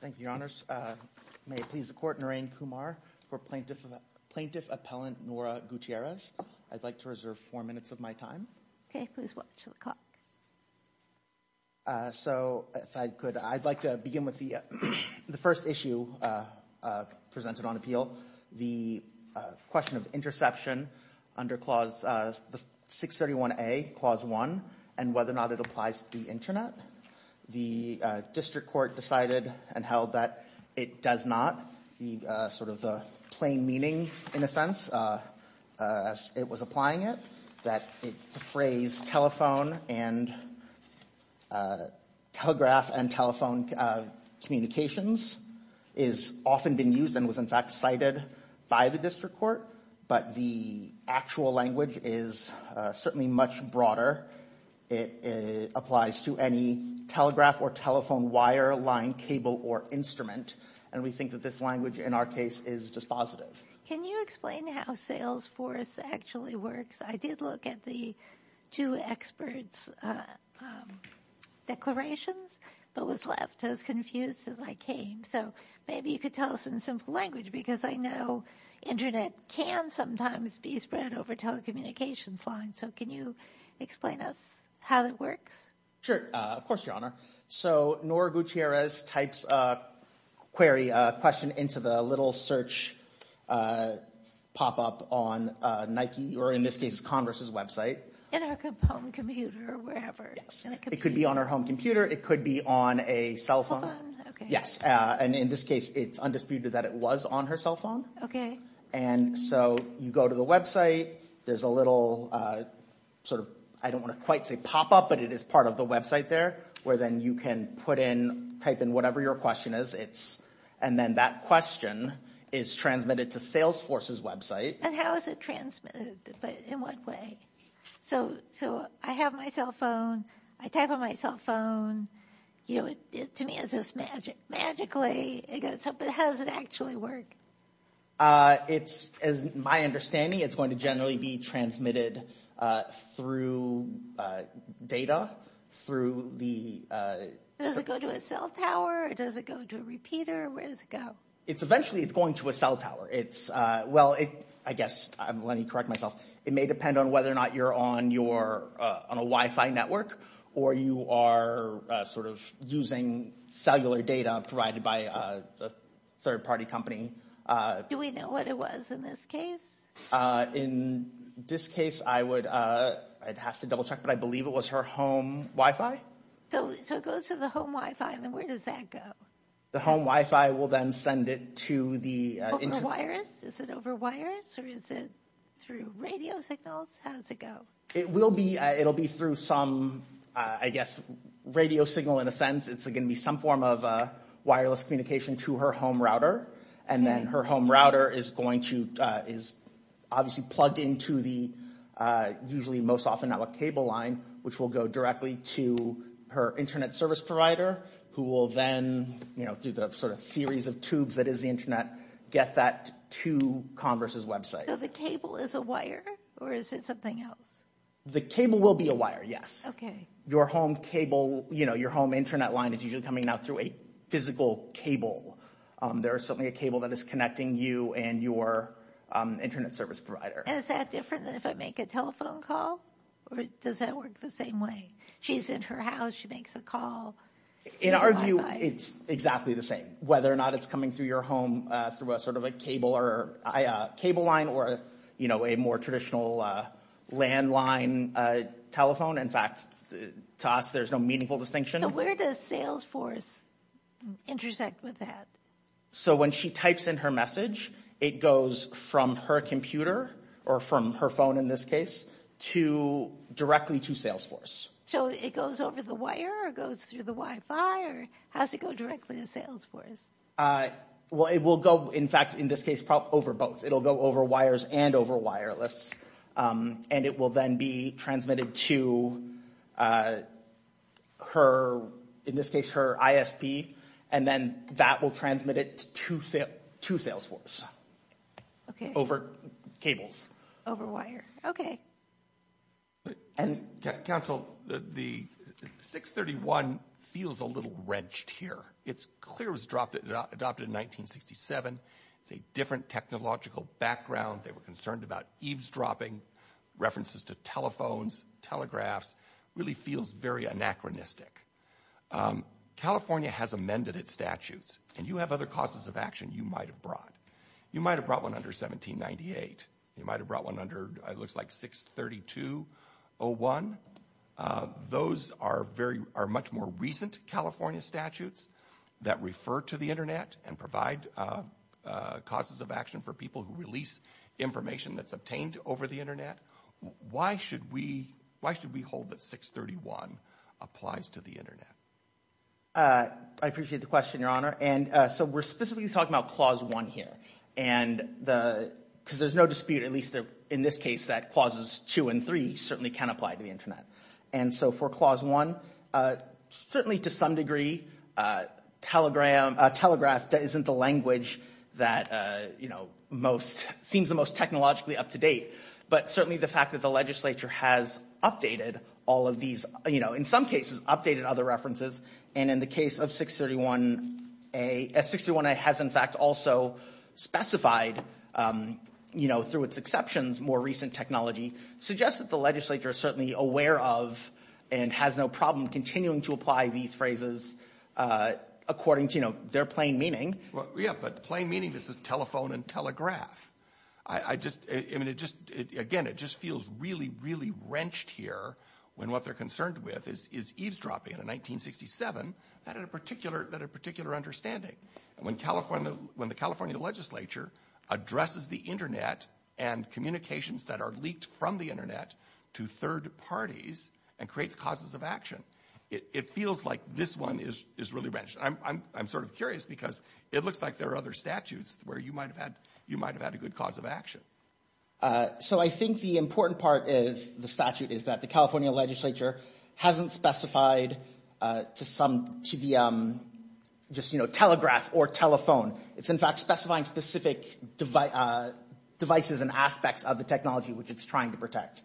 Thank you, Your Honors. May it please the Court, Narain Kumar for Plaintiff Appellant Nora Gutierrez. I'd like to reserve four minutes of my time. Okay, please watch the clock. So if I could, I'd like to begin with the first issue presented on appeal, the question of interception under Clause 631A, Clause 1, and whether or not it applies to the Internet. The district court decided and held that it does not. The sort of the plain meaning, in a sense, as it was applying it, that the phrase telephone and telegraph and telephone communications is often been used and was in fact cited by the district court, but the actual language is certainly much broader. It applies to any telegraph or telephone wire, line, cable, or instrument, and we think that this language in our case is dispositive. Can you explain how Salesforce actually works? I did look at the two experts' declarations, but was left as confused as I came, so maybe you could tell us in simple language, because I know Internet can sometimes be spread over telecommunications lines, so can you explain us how that works? Sure, of course, Your Honor. So Nora Gutierrez types a query, a question into the little search pop-up on Nike, or in this case, Converse's website. In our home computer or wherever. It could be on her home computer, it could be on a cell phone. Yes, and in this case, it's undisputed that it was on her cell phone. Okay. And so you go to the website, there's a little sort of, I don't want to quite say pop-up, but it is part of the website there, where then you can put in, type in whatever your question is, and then that question is transmitted to Salesforce's website. And how is it transmitted, in what way? So I have my cell phone, I type on my cell phone, you know, to me, is this magic, magically, but how does it actually work? It's, as my understanding, it's going to generally be transmitted through data, through the... Does it go to a cell tower, does it go to a repeater, where does it go? It's eventually, it's going to a cell tower. It's, well, it, I guess, let me correct myself, it may depend on whether or not you're on your, on a Wi-Fi network, or you are sort of using cellular data provided by a third-party company. Do we know what it was in this case? In this case, I would, I'd have to double check, but I believe it was her home Wi-Fi. So it goes to the home Wi-Fi, then where does that go? The home Wi-Fi will then send it to the... Over wires? Is it over wires, or is it through radio signals? How does it go? It will be, it'll be through some, I guess, radio signal, in a sense. It's going to be some form of wireless communication to her home router, and then her home router is going to, is obviously plugged into the, usually, most often network cable line, which will go directly to her internet service provider, who will then, you know, through the sort of series of tubes that is the internet, get that to Converse's website. So the cable is a wire, or is it something else? The cable will be a wire, yes. Okay. Your home cable, you know, your home internet line is usually coming now through a physical cable. There is certainly a cable that is connecting you and your internet service provider. Is that different than if I make a telephone call, or does that work the same way? She's in her house, she makes a call. In our view, it's exactly the same. Whether or not it's coming through your home, through a sort of a cable or a cable line, or, you know, a more traditional landline telephone. In fact, to us, there's no meaningful distinction. Where does Salesforce intersect with that? So when she types in her message, it goes from her computer, or from her phone in this case, to, directly to Salesforce. It goes over the wire, or goes through the Wi-Fi, or has it go directly to Salesforce? Well, it will go, in fact, in this case, probably over both. It'll go over wires and over wireless. And it will then be transmitted to her, in this case, her ISP. And then that will transmit it to Salesforce. Okay. Over cables. Over wire. Okay. And, Council, the 631 feels a little wrenched here. It's clear it was adopted in 1967. It's a different technological background. They were concerned about eavesdropping, references to telephones, telegraphs. Really feels very anachronistic. California has amended its statutes. And you have other causes of action you might have brought. You might have brought one under 1798. You might have brought one under, it looks like, 632-01. Those are much more recent California statutes that refer to the internet and provide causes of action for people who release information that's obtained over the internet. Why should we hold that 631 applies to the internet? I appreciate the question, Your Honor. And so we're specifically talking about Clause 1 here. And because there's no dispute, at least in this case, that Clauses 2 and 3 certainly can apply to the internet. And so for Clause 1, certainly to some degree, telegraph isn't the language that seems the most technologically up-to-date. But certainly the fact that the legislature has updated all of these, in some cases, updated other references. And in the case of 631-A, 631-A has in fact also specified, you know, through its exceptions, more recent technology. Suggests that the legislature is certainly aware of and has no problem continuing to apply these phrases according to, you know, their plain meaning. Well, yeah, but plain meaning, this is telephone and telegraph. I just, I mean, it just, again, it just feels really, really wrenched here when what they're concerned with is eavesdropping on a 1967 that had a particular, that had a particular understanding. And when California, when the California legislature addresses the internet and communications that are leaked from the internet to third parties and creates causes of action, it feels like this one is really wrenched. I'm sort of curious because it looks like there are other statutes where you might have had, you might have had a good cause of action. So I think the important part of the statute is that the California legislature hasn't specified to some, to the, just, you know, telegraph or telephone. It's in fact specifying specific devices and aspects of the technology which it's trying to protect.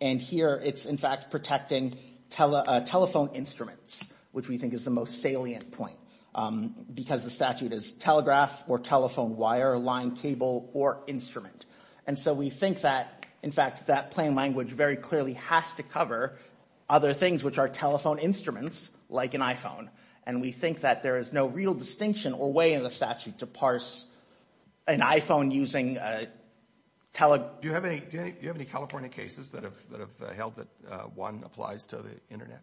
And here it's in fact protecting telephone instruments, which we think is the most salient point. Because the statute is telegraph or telephone wire, line, cable, or instrument. And so we think that, in fact, that plain language very clearly has to cover other things which are telephone instruments like an iPhone. And we think that there is no real distinction or way in the statute to parse an iPhone using a tele... Do you have any, do you have any California cases that have, that have held that one applies to the internet?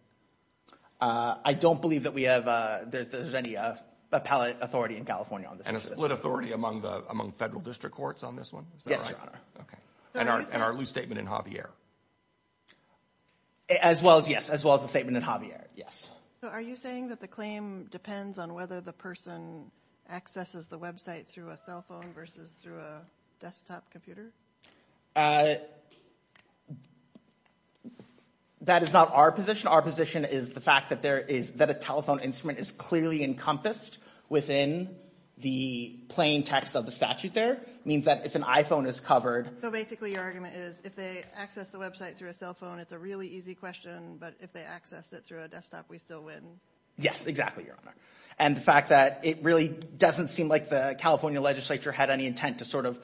I don't believe that we have, there's any appellate authority in California on this. And a split authority among the, among federal district courts on this one? Yes, Your Honor. Okay. And our loose statement in Javier. As well as, yes, as well as the statement in Javier. Yes. So are you saying that the claim depends on whether the person accesses the website through a cell phone versus through a desktop computer? That is not our position. Our position is the fact that there is, that a telephone instrument is clearly encompassed within the plain text of the statute there. Means that if an iPhone is covered... So basically your argument is if they access the website through a cell phone, it's a really easy question. But if they access it through a desktop, we still win. Yes, exactly, Your Honor. And the fact that it really doesn't seem like the California legislature had any intent to sort of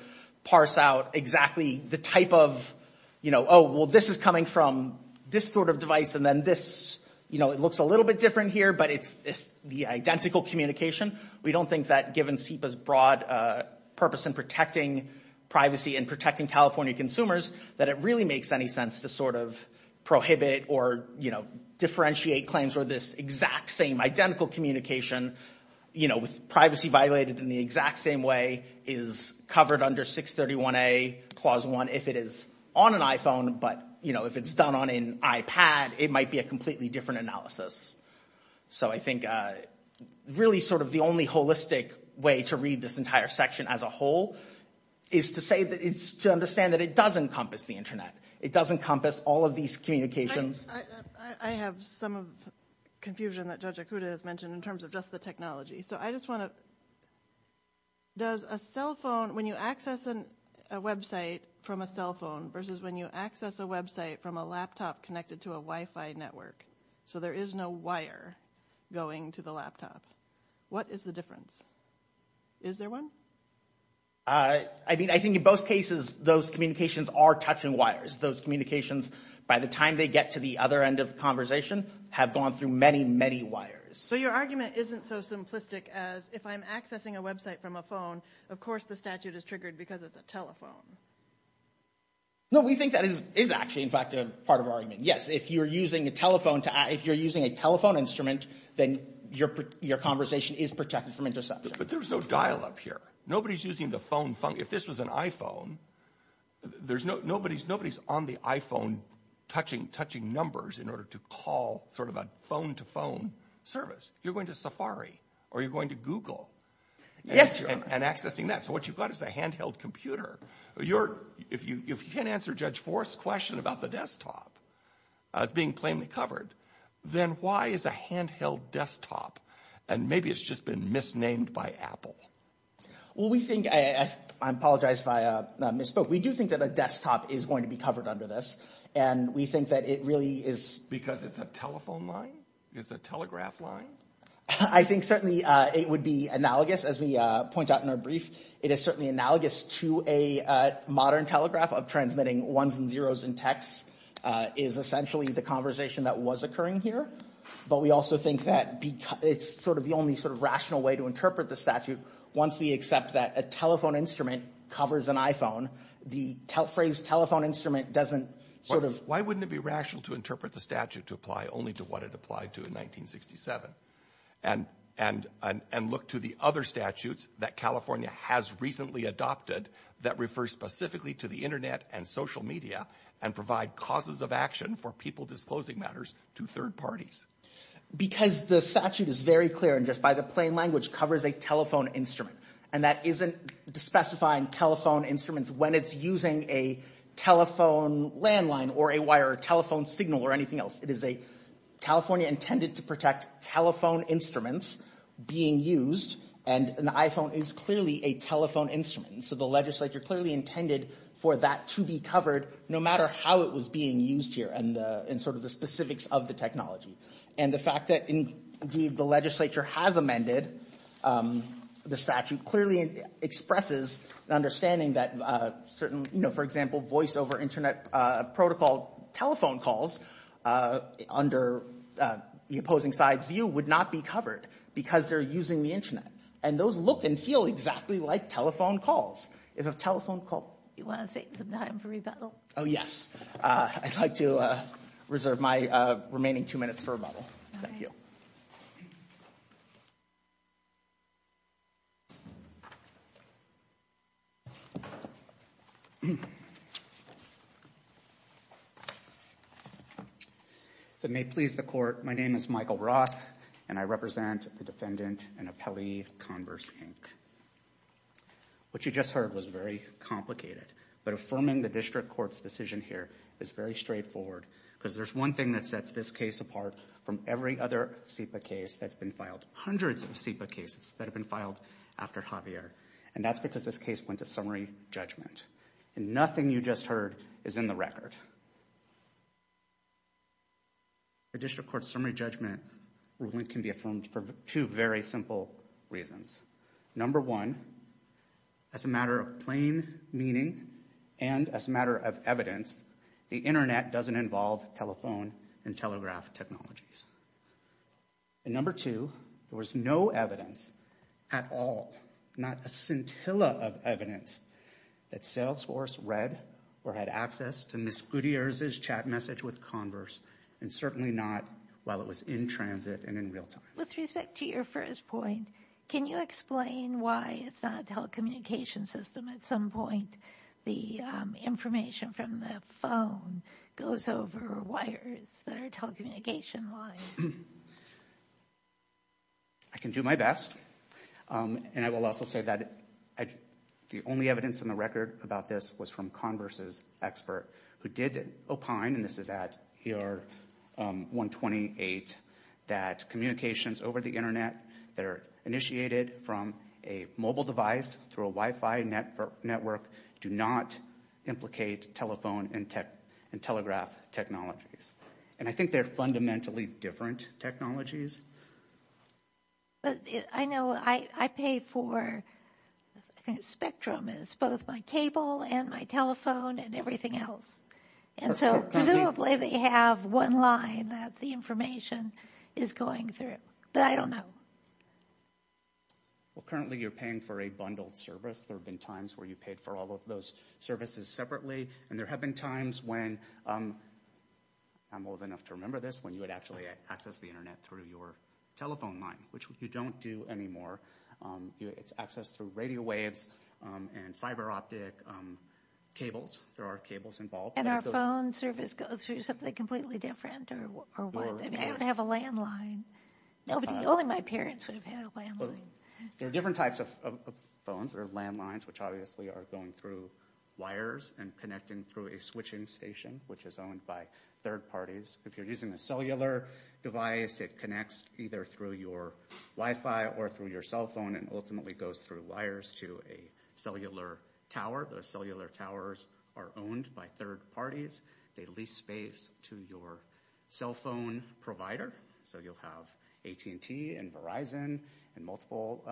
parse out exactly the type of, you know, oh, well, this is coming from this sort of device. And then this, you know, it looks a little bit different here, but it's the identical communication. We don't think that given SIPA's broad purpose in protecting privacy and protecting California consumers, that it really makes any sense to sort of prohibit or, you know, differentiate claims where this exact same identical communication, you know, with privacy violated in the exact same way is covered under 631A, Clause 1, if it is on an iPhone. But, you know, if it's done on an iPad, it might be a completely different analysis. So I think really sort of the only holistic way to read this entire section as a whole is to say that it's to understand that it does encompass the internet. It does encompass all of these communications. I have some confusion that Judge Akuta has mentioned in terms of just the technology. So I just want to... Does a cell phone, when you access a website from a cell phone versus when you access a website from a laptop connected to a Wi-Fi network, so there is no wire going to the laptop, what is the difference? Is there one? I mean, I think in both cases, those communications are touching wires. Those communications, by the time they get to the other end of conversation, have gone through many, many wires. So your argument isn't so simplistic as, if I'm accessing a website from a phone, of course, the statute is triggered because it's a telephone. No, we think that is actually, in fact, a part of our argument. If you're using a telephone instrument, then your conversation is protected from interception. But there's no dial-up here. Nobody's using the phone. If this was an iPhone, nobody's on the iPhone touching numbers in order to call sort of a phone-to-phone service. You're going to Safari or you're going to Google. Yes, you are. And accessing that. So what you've got is a handheld computer. If you can't answer Judge Forrest's question about the desktop, as being plainly covered, then why is a handheld desktop? And maybe it's just been misnamed by Apple. Well, we think, I apologize if I misspoke. We do think that a desktop is going to be covered under this. And we think that it really is. Because it's a telephone line? It's a telegraph line? I think certainly it would be analogous, as we point out in our brief. It is certainly analogous to a modern telegraph of transmitting ones and zeros in text. Is essentially the conversation that was occurring here. But we also think that it's sort of the only sort of rational way to interpret the statute. Once we accept that a telephone instrument covers an iPhone, the phrase telephone instrument doesn't sort of... Why wouldn't it be rational to interpret the statute to apply only to what it applied to in 1967? And look to the other statutes that California has recently adopted that refer specifically to the internet and social media and provide causes of action for people disclosing matters to third parties. Because the statute is very clear and just by the plain language covers a telephone instrument. And that isn't specifying telephone instruments when it's using a telephone landline or a wire telephone signal or anything else. It is a California intended to protect telephone instruments being used. And an iPhone is clearly a telephone instrument. So the legislature clearly intended for that to be covered no matter how it was being used here and sort of the specifics of the technology. And the fact that indeed the legislature has amended the statute clearly expresses the understanding that certain, you know, for example, voice over internet protocol telephone calls under the opposing side's view would not be covered because they're using the internet. And those look and feel exactly like telephone calls. If a telephone call... You want to take some time for rebuttal? Oh, yes. I'd like to reserve my remaining two minutes for rebuttal. Thank you. If it may please the court, my name is Michael Roth and I represent the defendant and appellee Converse, Inc. What you just heard was very complicated, but affirming the district court's decision here is very straightforward because there's one thing that sets this case apart from every other SEPA case that's been filed. Hundreds of SEPA cases that have been filed after Javier and that's because this case went to summary judgment. And nothing you just heard is in the record. The district court's summary judgment ruling can be affirmed for two very simple reasons. Number one, as a matter of plain meaning and as a matter of evidence, the internet doesn't involve telephone and telegraph technologies. And number two, there was no evidence at all, not a scintilla of evidence that Salesforce read or had access to Ms. Gutierrez's chat message with Converse and certainly not while it was in transit and in real time. With respect to your first point, can you explain why it's not a telecommunication system? At some point, the information from the phone goes over wires that are telecommunication-wide. I can do my best. And I will also say that the only evidence in the record about this was from Converse's expert who did opine, and this is at ER 128, that communications over the internet that are initiated from a mobile device through a Wi-Fi network do not implicate telephone and telegraph technologies. And I think they're fundamentally different technologies. But I know I pay for spectrum. It's both my cable and my telephone and everything else. And so presumably they have one line that the information is going through, but I don't know. Well, currently you're paying for a bundled service. There have been times where you paid for all of those services separately. And there have been times when, I'm old enough to remember this, when you would actually access the internet through your telephone line, which you don't do anymore. It's accessed through radio waves and fiber optic cables. There are cables involved. And our phone service goes through something completely different or what? I mean, I don't have a landline. Only my parents would have had a landline. There are different types of phones. There are landlines, which obviously are going through wires and connecting through a switching station, which is owned by third parties. If you're using a cellular device, it connects either through your Wi-Fi or through your cell phone and ultimately goes through wires to a cellular tower. Those cellular towers are owned by third parties. They lease space to your cell phone provider. So you'll have AT&T and Verizon and multiple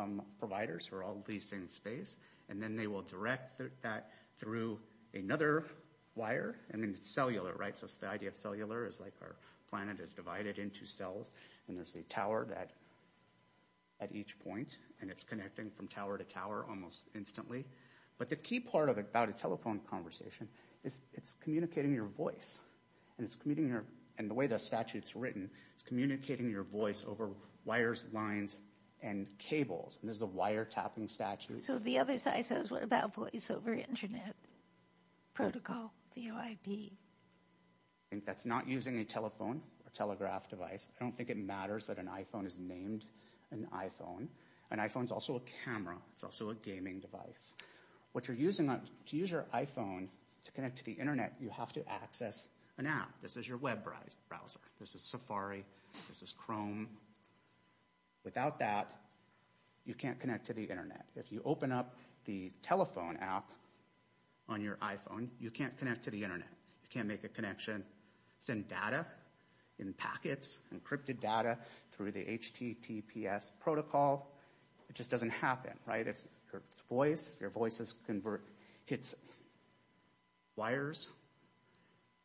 providers who are all leasing space. And then they will direct that through another wire. I mean, it's cellular, right? The idea of cellular is like our planet is divided into cells. And there's a tower at each point. And it's connecting from tower to tower almost instantly. But the key part of it, about a telephone conversation, is it's communicating your voice. And the way the statute's written, it's communicating your voice over wires, lines, and cables. And this is a wiretapping statute. So the other side says, what about voice over internet protocol, VOIP? That's not using a telephone or telegraph device. I don't think it matters that an iPhone is named an iPhone. An iPhone's also a camera. It's also a gaming device. What you're using to use your iPhone to connect to the internet, you have to access an app. This is your web browser. This is Safari. This is Chrome. Without that, you can't connect to the internet. If you open up the telephone app on your iPhone, you can't connect to the internet. You can't make a connection. Send data in packets, encrypted data, through the HTTPS protocol. It just doesn't happen, right? It's your voice. Your voice hits wires,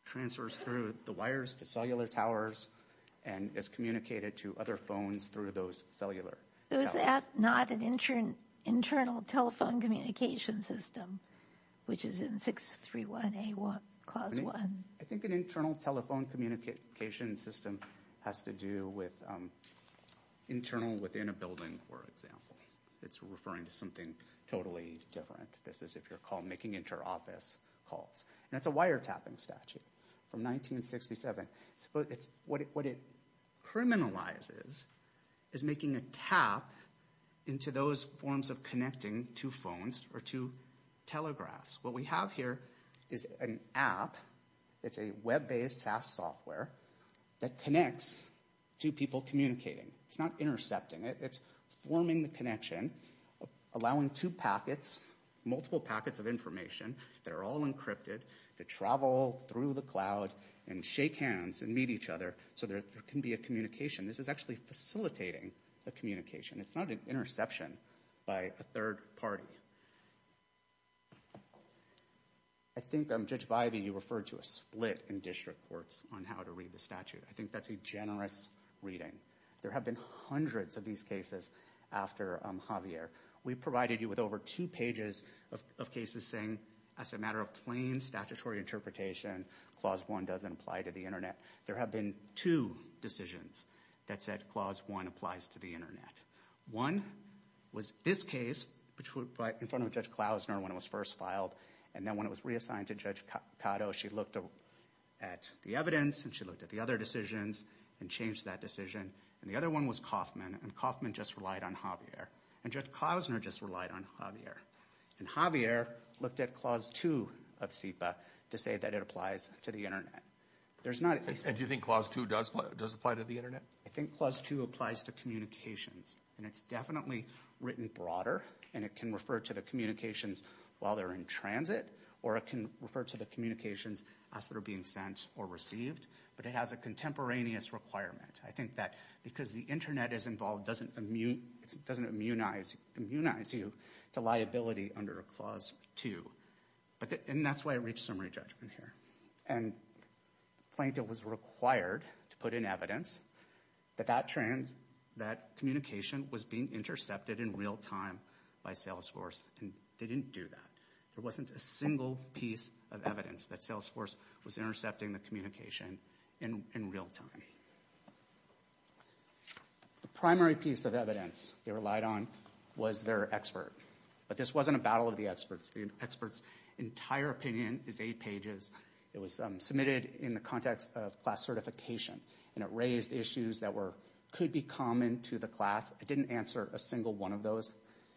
transfers through the wires to cellular towers, and is communicated to other phones through those cellular towers. Is that not an internal telephone communication system, which is in 631A clause 1? I think an internal telephone communication system has to do with internal within a building, for example. It's referring to something totally different. This is if you're making inter-office calls. And it's a wiretapping statute from 1967. What it criminalizes is making a tap into those forms of connecting to phones or to telegraphs. What we have here is an app. It's a web-based SaaS software that connects to people communicating. It's not intercepting it. It's forming the connection, allowing two packets, multiple packets of information that are all encrypted to travel through the cloud and shake hands and meet each other so there can be a communication. This is actually facilitating the communication. It's not an interception by a third party. I think, Judge Vivey, you referred to a split in district courts on how to read the statute. I think that's a generous reading. There have been hundreds of these cases after Javier. We provided you with over two pages of cases saying, as a matter of plain statutory interpretation, Clause 1 doesn't apply to the internet. There have been two decisions that said Clause 1 applies to the internet. One was this case in front of Judge Klausner when it was first filed. And then when it was reassigned to Judge Cotto, she looked at the evidence and she looked at the other decisions and changed that decision. And the other one was Kaufman. And Kaufman just relied on Javier. And Judge Klausner just relied on Javier. And Javier looked at Clause 2 of CEPA to say that it applies to the internet. And do you think Clause 2 does apply to the internet? I think Clause 2 applies to communications. And it's definitely written broader. And it can refer to the communications while they're in transit or it can refer to the communications as they're being sent or received. But it has a contemporaneous requirement. I think that because the internet is involved, it doesn't immunize you to liability under Clause 2. And that's why I reached summary judgment here. And Plaintiff was required to put in evidence that that communication was being intercepted in real time by Salesforce. And they didn't do that. There wasn't a single piece of evidence that Salesforce was intercepting the communication in real time. The primary piece of evidence they relied on was their expert. But this wasn't a battle of the experts. The experts' entire opinion is eight pages. It was submitted in the context of class certification. And it raised issues that could be common to the class. I didn't answer a single one of those.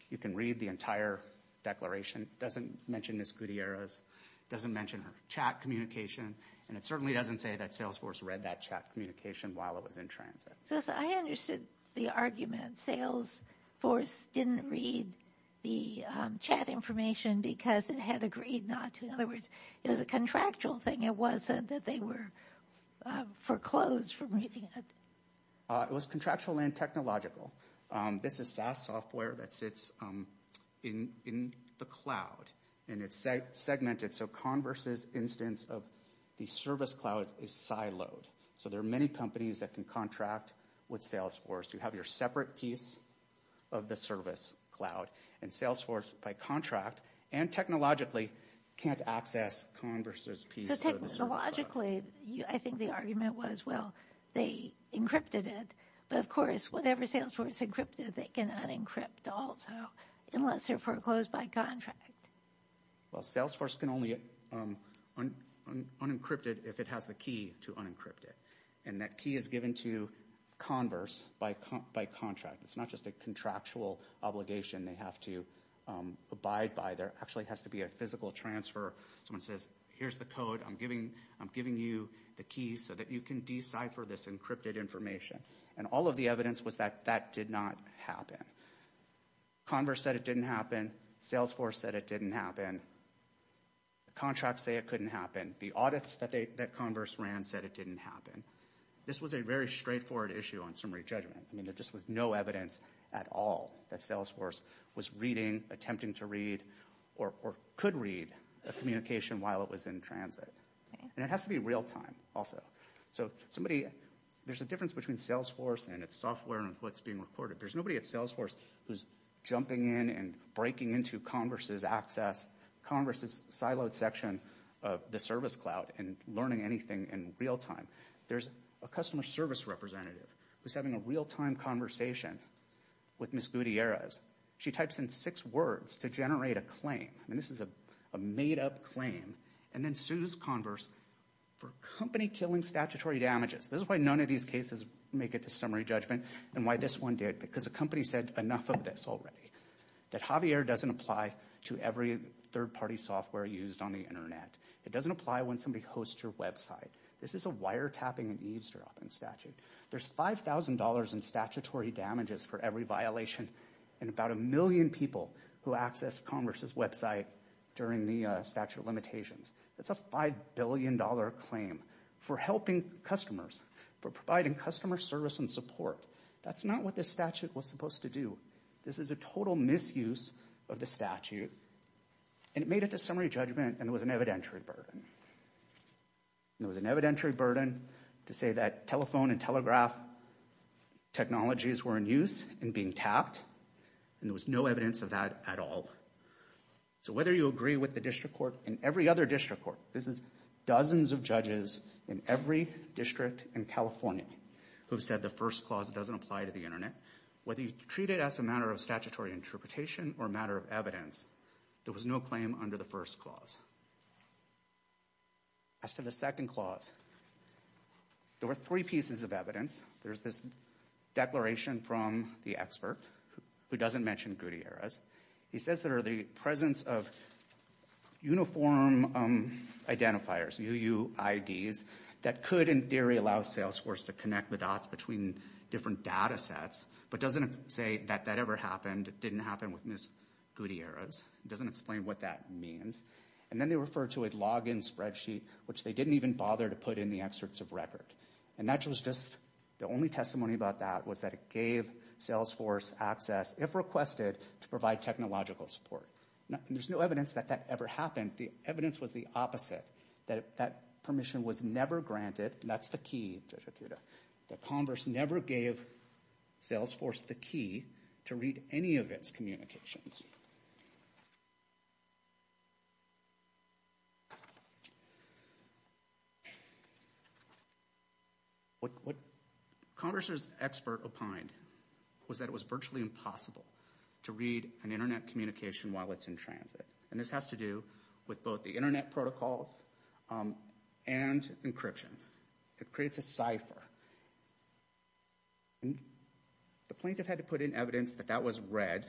You can read the entire declaration. It doesn't mention Ms. Gutierrez. It doesn't mention her chat communication. And it certainly doesn't say that Salesforce read that chat communication while it was in transit. So I understood the argument. Salesforce didn't read the chat information because it had agreed not to. In other words, it was a contractual thing. It wasn't that they were foreclosed from reading it. It was contractual and technological. This is SaaS software that sits in the cloud. And it's segmented. So Converse's instance of the service cloud is siloed. So there are many companies that can contract with Salesforce. You have your separate piece of the service cloud. And Salesforce, by contract and technologically, can't access Converse's piece of the service cloud. So technologically, I think the argument was, well, they encrypted it. But of course, whatever Salesforce encrypted, they cannot encrypt also, unless they're foreclosed by contract. Well, Salesforce can only unencrypt it if it has the key to unencrypt it. And that key is given to Converse by contract. It's not just a contractual obligation they have to abide by. There actually has to be a physical transfer. Someone says, here's the code. I'm giving you the keys so that you can decipher this encrypted information. And all of the evidence was that that did not happen. Converse said it didn't happen. Salesforce said it didn't happen. The contracts say it couldn't happen. The audits that Converse ran said it didn't happen. This was a very straightforward issue on summary judgment. I mean, there just was no evidence at all that Salesforce was reading, attempting to read, or could read a communication while it was in transit. And it has to be real time also. So there's a difference between Salesforce and its software and what's being recorded. There's nobody at Salesforce who's jumping in and breaking into Converse's access, Converse's siloed section of the service cloud, and learning anything in real time. There's a customer service representative who's having a real time conversation with Ms. Gutierrez. She types in six words to generate a claim. And this is a made up claim. And then sues Converse for company killing statutory damages. This is why none of these cases make it to summary judgment, and why this one did. Because the company said enough of this already. That Javier doesn't apply to every third party software used on the internet. It doesn't apply when somebody hosts your website. This is a wiretapping and eavesdropping statute. There's $5,000 in statutory damages for every violation, and about a million people who access Converse's website during the statute of limitations. That's a $5 billion claim for helping customers, for providing customer service and support. That's not what this statute was supposed to do. This is a total misuse of the statute. And it made it to summary judgment, and it was an evidentiary burden. And it was an evidentiary burden to say that telephone and telegraph technologies were in use and being tapped, and there was no evidence of that at all. So whether you agree with the district court and every other district court, this is dozens of judges in every district in California who have said the first clause doesn't apply to the internet, whether you treat it as a matter of statutory interpretation or a matter of evidence, there was no claim under the first clause. As to the second clause, there were three pieces of evidence. There's this declaration from the expert who doesn't mention Gutierrez. He says there are the presence of uniform identifiers, UUIDs, that could in theory allow Salesforce to connect the dots between different data sets, but doesn't say that that ever happened, didn't happen with Ms. Gutierrez. It doesn't explain what that means. And then they refer to a login spreadsheet, which they didn't even bother to put in the excerpts of record. And that was just, the only testimony about that was that it gave Salesforce access, if requested, to provide technological support. There's no evidence that that ever happened. The evidence was the opposite, that that permission was never granted. That's the key, Judge Akuta, that Congress never gave Salesforce the key to read any of its communications. What Congress' expert opined was that it was virtually impossible to read an internet communication while it's in transit. And this has to do with both the internet protocols and encryption. It creates a cipher. And the plaintiff had to put in evidence that that was read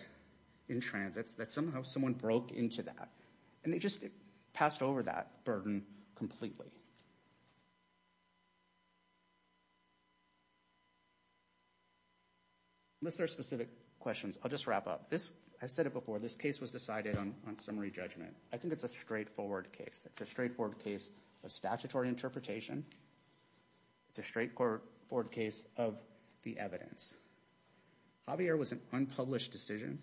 in transits, that somehow someone broke into that. And they just passed over that burden completely. Unless there are specific questions, I'll just wrap up. This, I've said it before, this case was decided on summary judgment. I think it's a straightforward case. It's a straightforward case of statutory interpretation. It's a straightforward case of the evidence. Javier was an unpublished decision.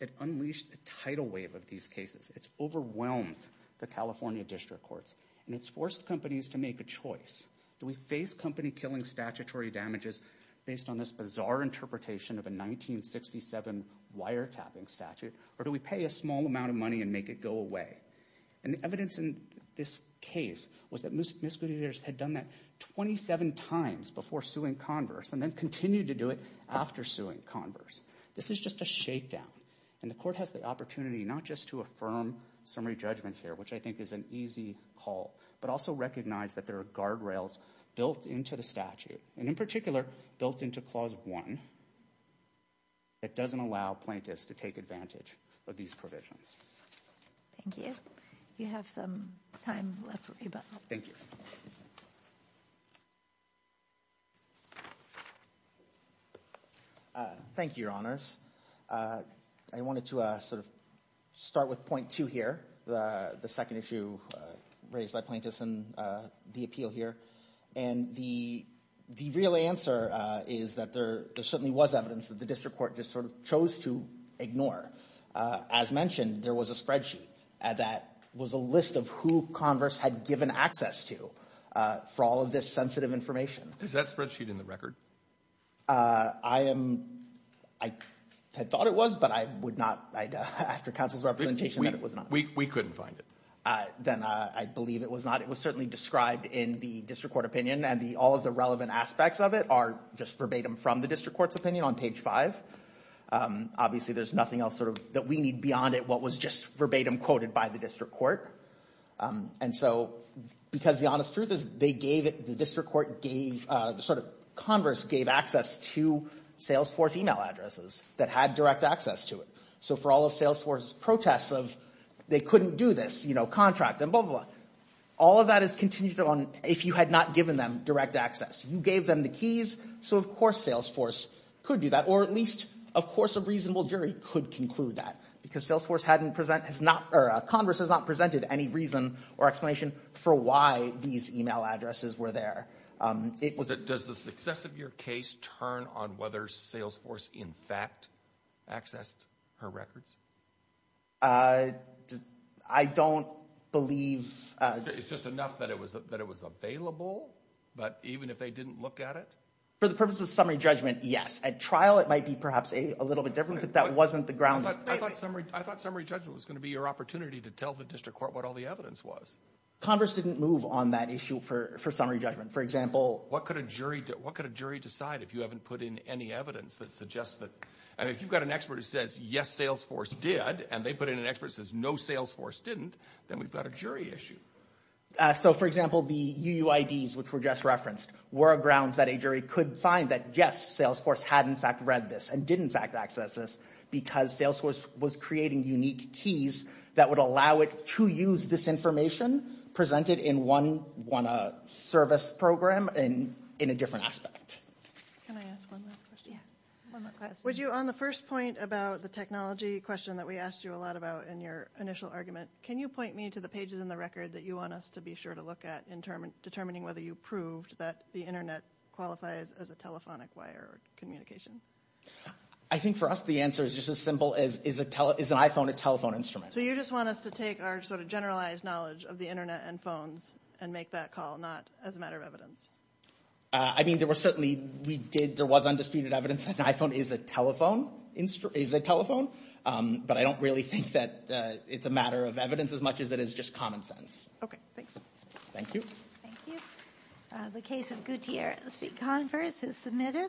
It unleashed a tidal wave of these cases. It's overwhelmed the California district courts. And it's forced companies to make a choice. Do we face company-killing statutory damages based on this bizarre interpretation of a 1967 wiretapping statute? Or do we pay a small amount of money and make it go away? And the evidence in this case was that misdemeanors had done that 27 times before suing Converse and then continued to do it after suing Converse. This is just a shakedown. And the court has the opportunity not just to affirm summary judgment here, which I think is an easy call, but also recognize that there are guardrails built into the statute. And in particular, built into Clause 1 that doesn't allow plaintiffs to take advantage of these provisions. Thank you. You have some time left, Reba. Thank you. Thank you, Your Honors. I wanted to sort of start with point two here, the second issue raised by plaintiffs in the appeal here. And the real answer is that there certainly was evidence that the district court just sort of chose to ignore. As mentioned, there was a spreadsheet that was a list of who Converse had given access to for all of this sensitive information. Is that spreadsheet in the record? I thought it was, but I would not, after counsel's representation, that it was not. We couldn't find it. Then I believe it was not. It was certainly described in the district court opinion. And all of the relevant aspects of it are just verbatim from the district court's opinion on page five. Obviously, there's nothing else sort of that we need beyond it what was just verbatim quoted by the district court. And so, because the honest truth is they gave it, the district court gave, sort of Converse gave access to Salesforce email addresses that had direct access to it. So for all of Salesforce protests of they couldn't do this, you know, contract and blah, blah, blah, all of that is contingent on if you had not given them direct access. You gave them the keys. So, of course, Salesforce could do that. Or at least, of course, a reasonable jury could conclude that because Salesforce hadn't present, or Converse has not presented any reason or explanation for why these email addresses were there. Does the success of your case turn on whether Salesforce, in fact, accessed her records? I don't believe. It's just enough that it was available, but even if they didn't look at it? The purpose of summary judgment, yes. At trial, it might be perhaps a little bit different, but that wasn't the grounds. I thought summary judgment was going to be your opportunity to tell the district court what all the evidence was. Converse didn't move on that issue for summary judgment. For example. What could a jury decide if you haven't put in any evidence that suggests that? And if you've got an expert who says, yes, Salesforce did, and they put in an expert says, no, Salesforce didn't, then we've got a jury issue. So, for example, the UUIDs, which were just referenced, were grounds that a jury could find that, yes, Salesforce had, in fact, read this and did, in fact, access this because Salesforce was creating unique keys that would allow it to use this information presented in one service program and in a different aspect. On the first point about the technology question that we asked you a lot about in your initial argument, can you point me to the pages in the record that you want us to be sure to look at in determining whether you proved that the internet qualifies as a telephonic wire communication? I think for us, the answer is just as simple as, is an iPhone a telephone instrument? So you just want us to take our sort of generalized knowledge of the internet and phones and make that call, not as a matter of evidence? I mean, there was certainly, we did, there was undisputed evidence that an iPhone is a telephone, but I don't really think that it's a matter of evidence as much as it is just common sense. Okay, thanks. Thank you. Thank you. The case of Gutierrez v. Converse is submitted.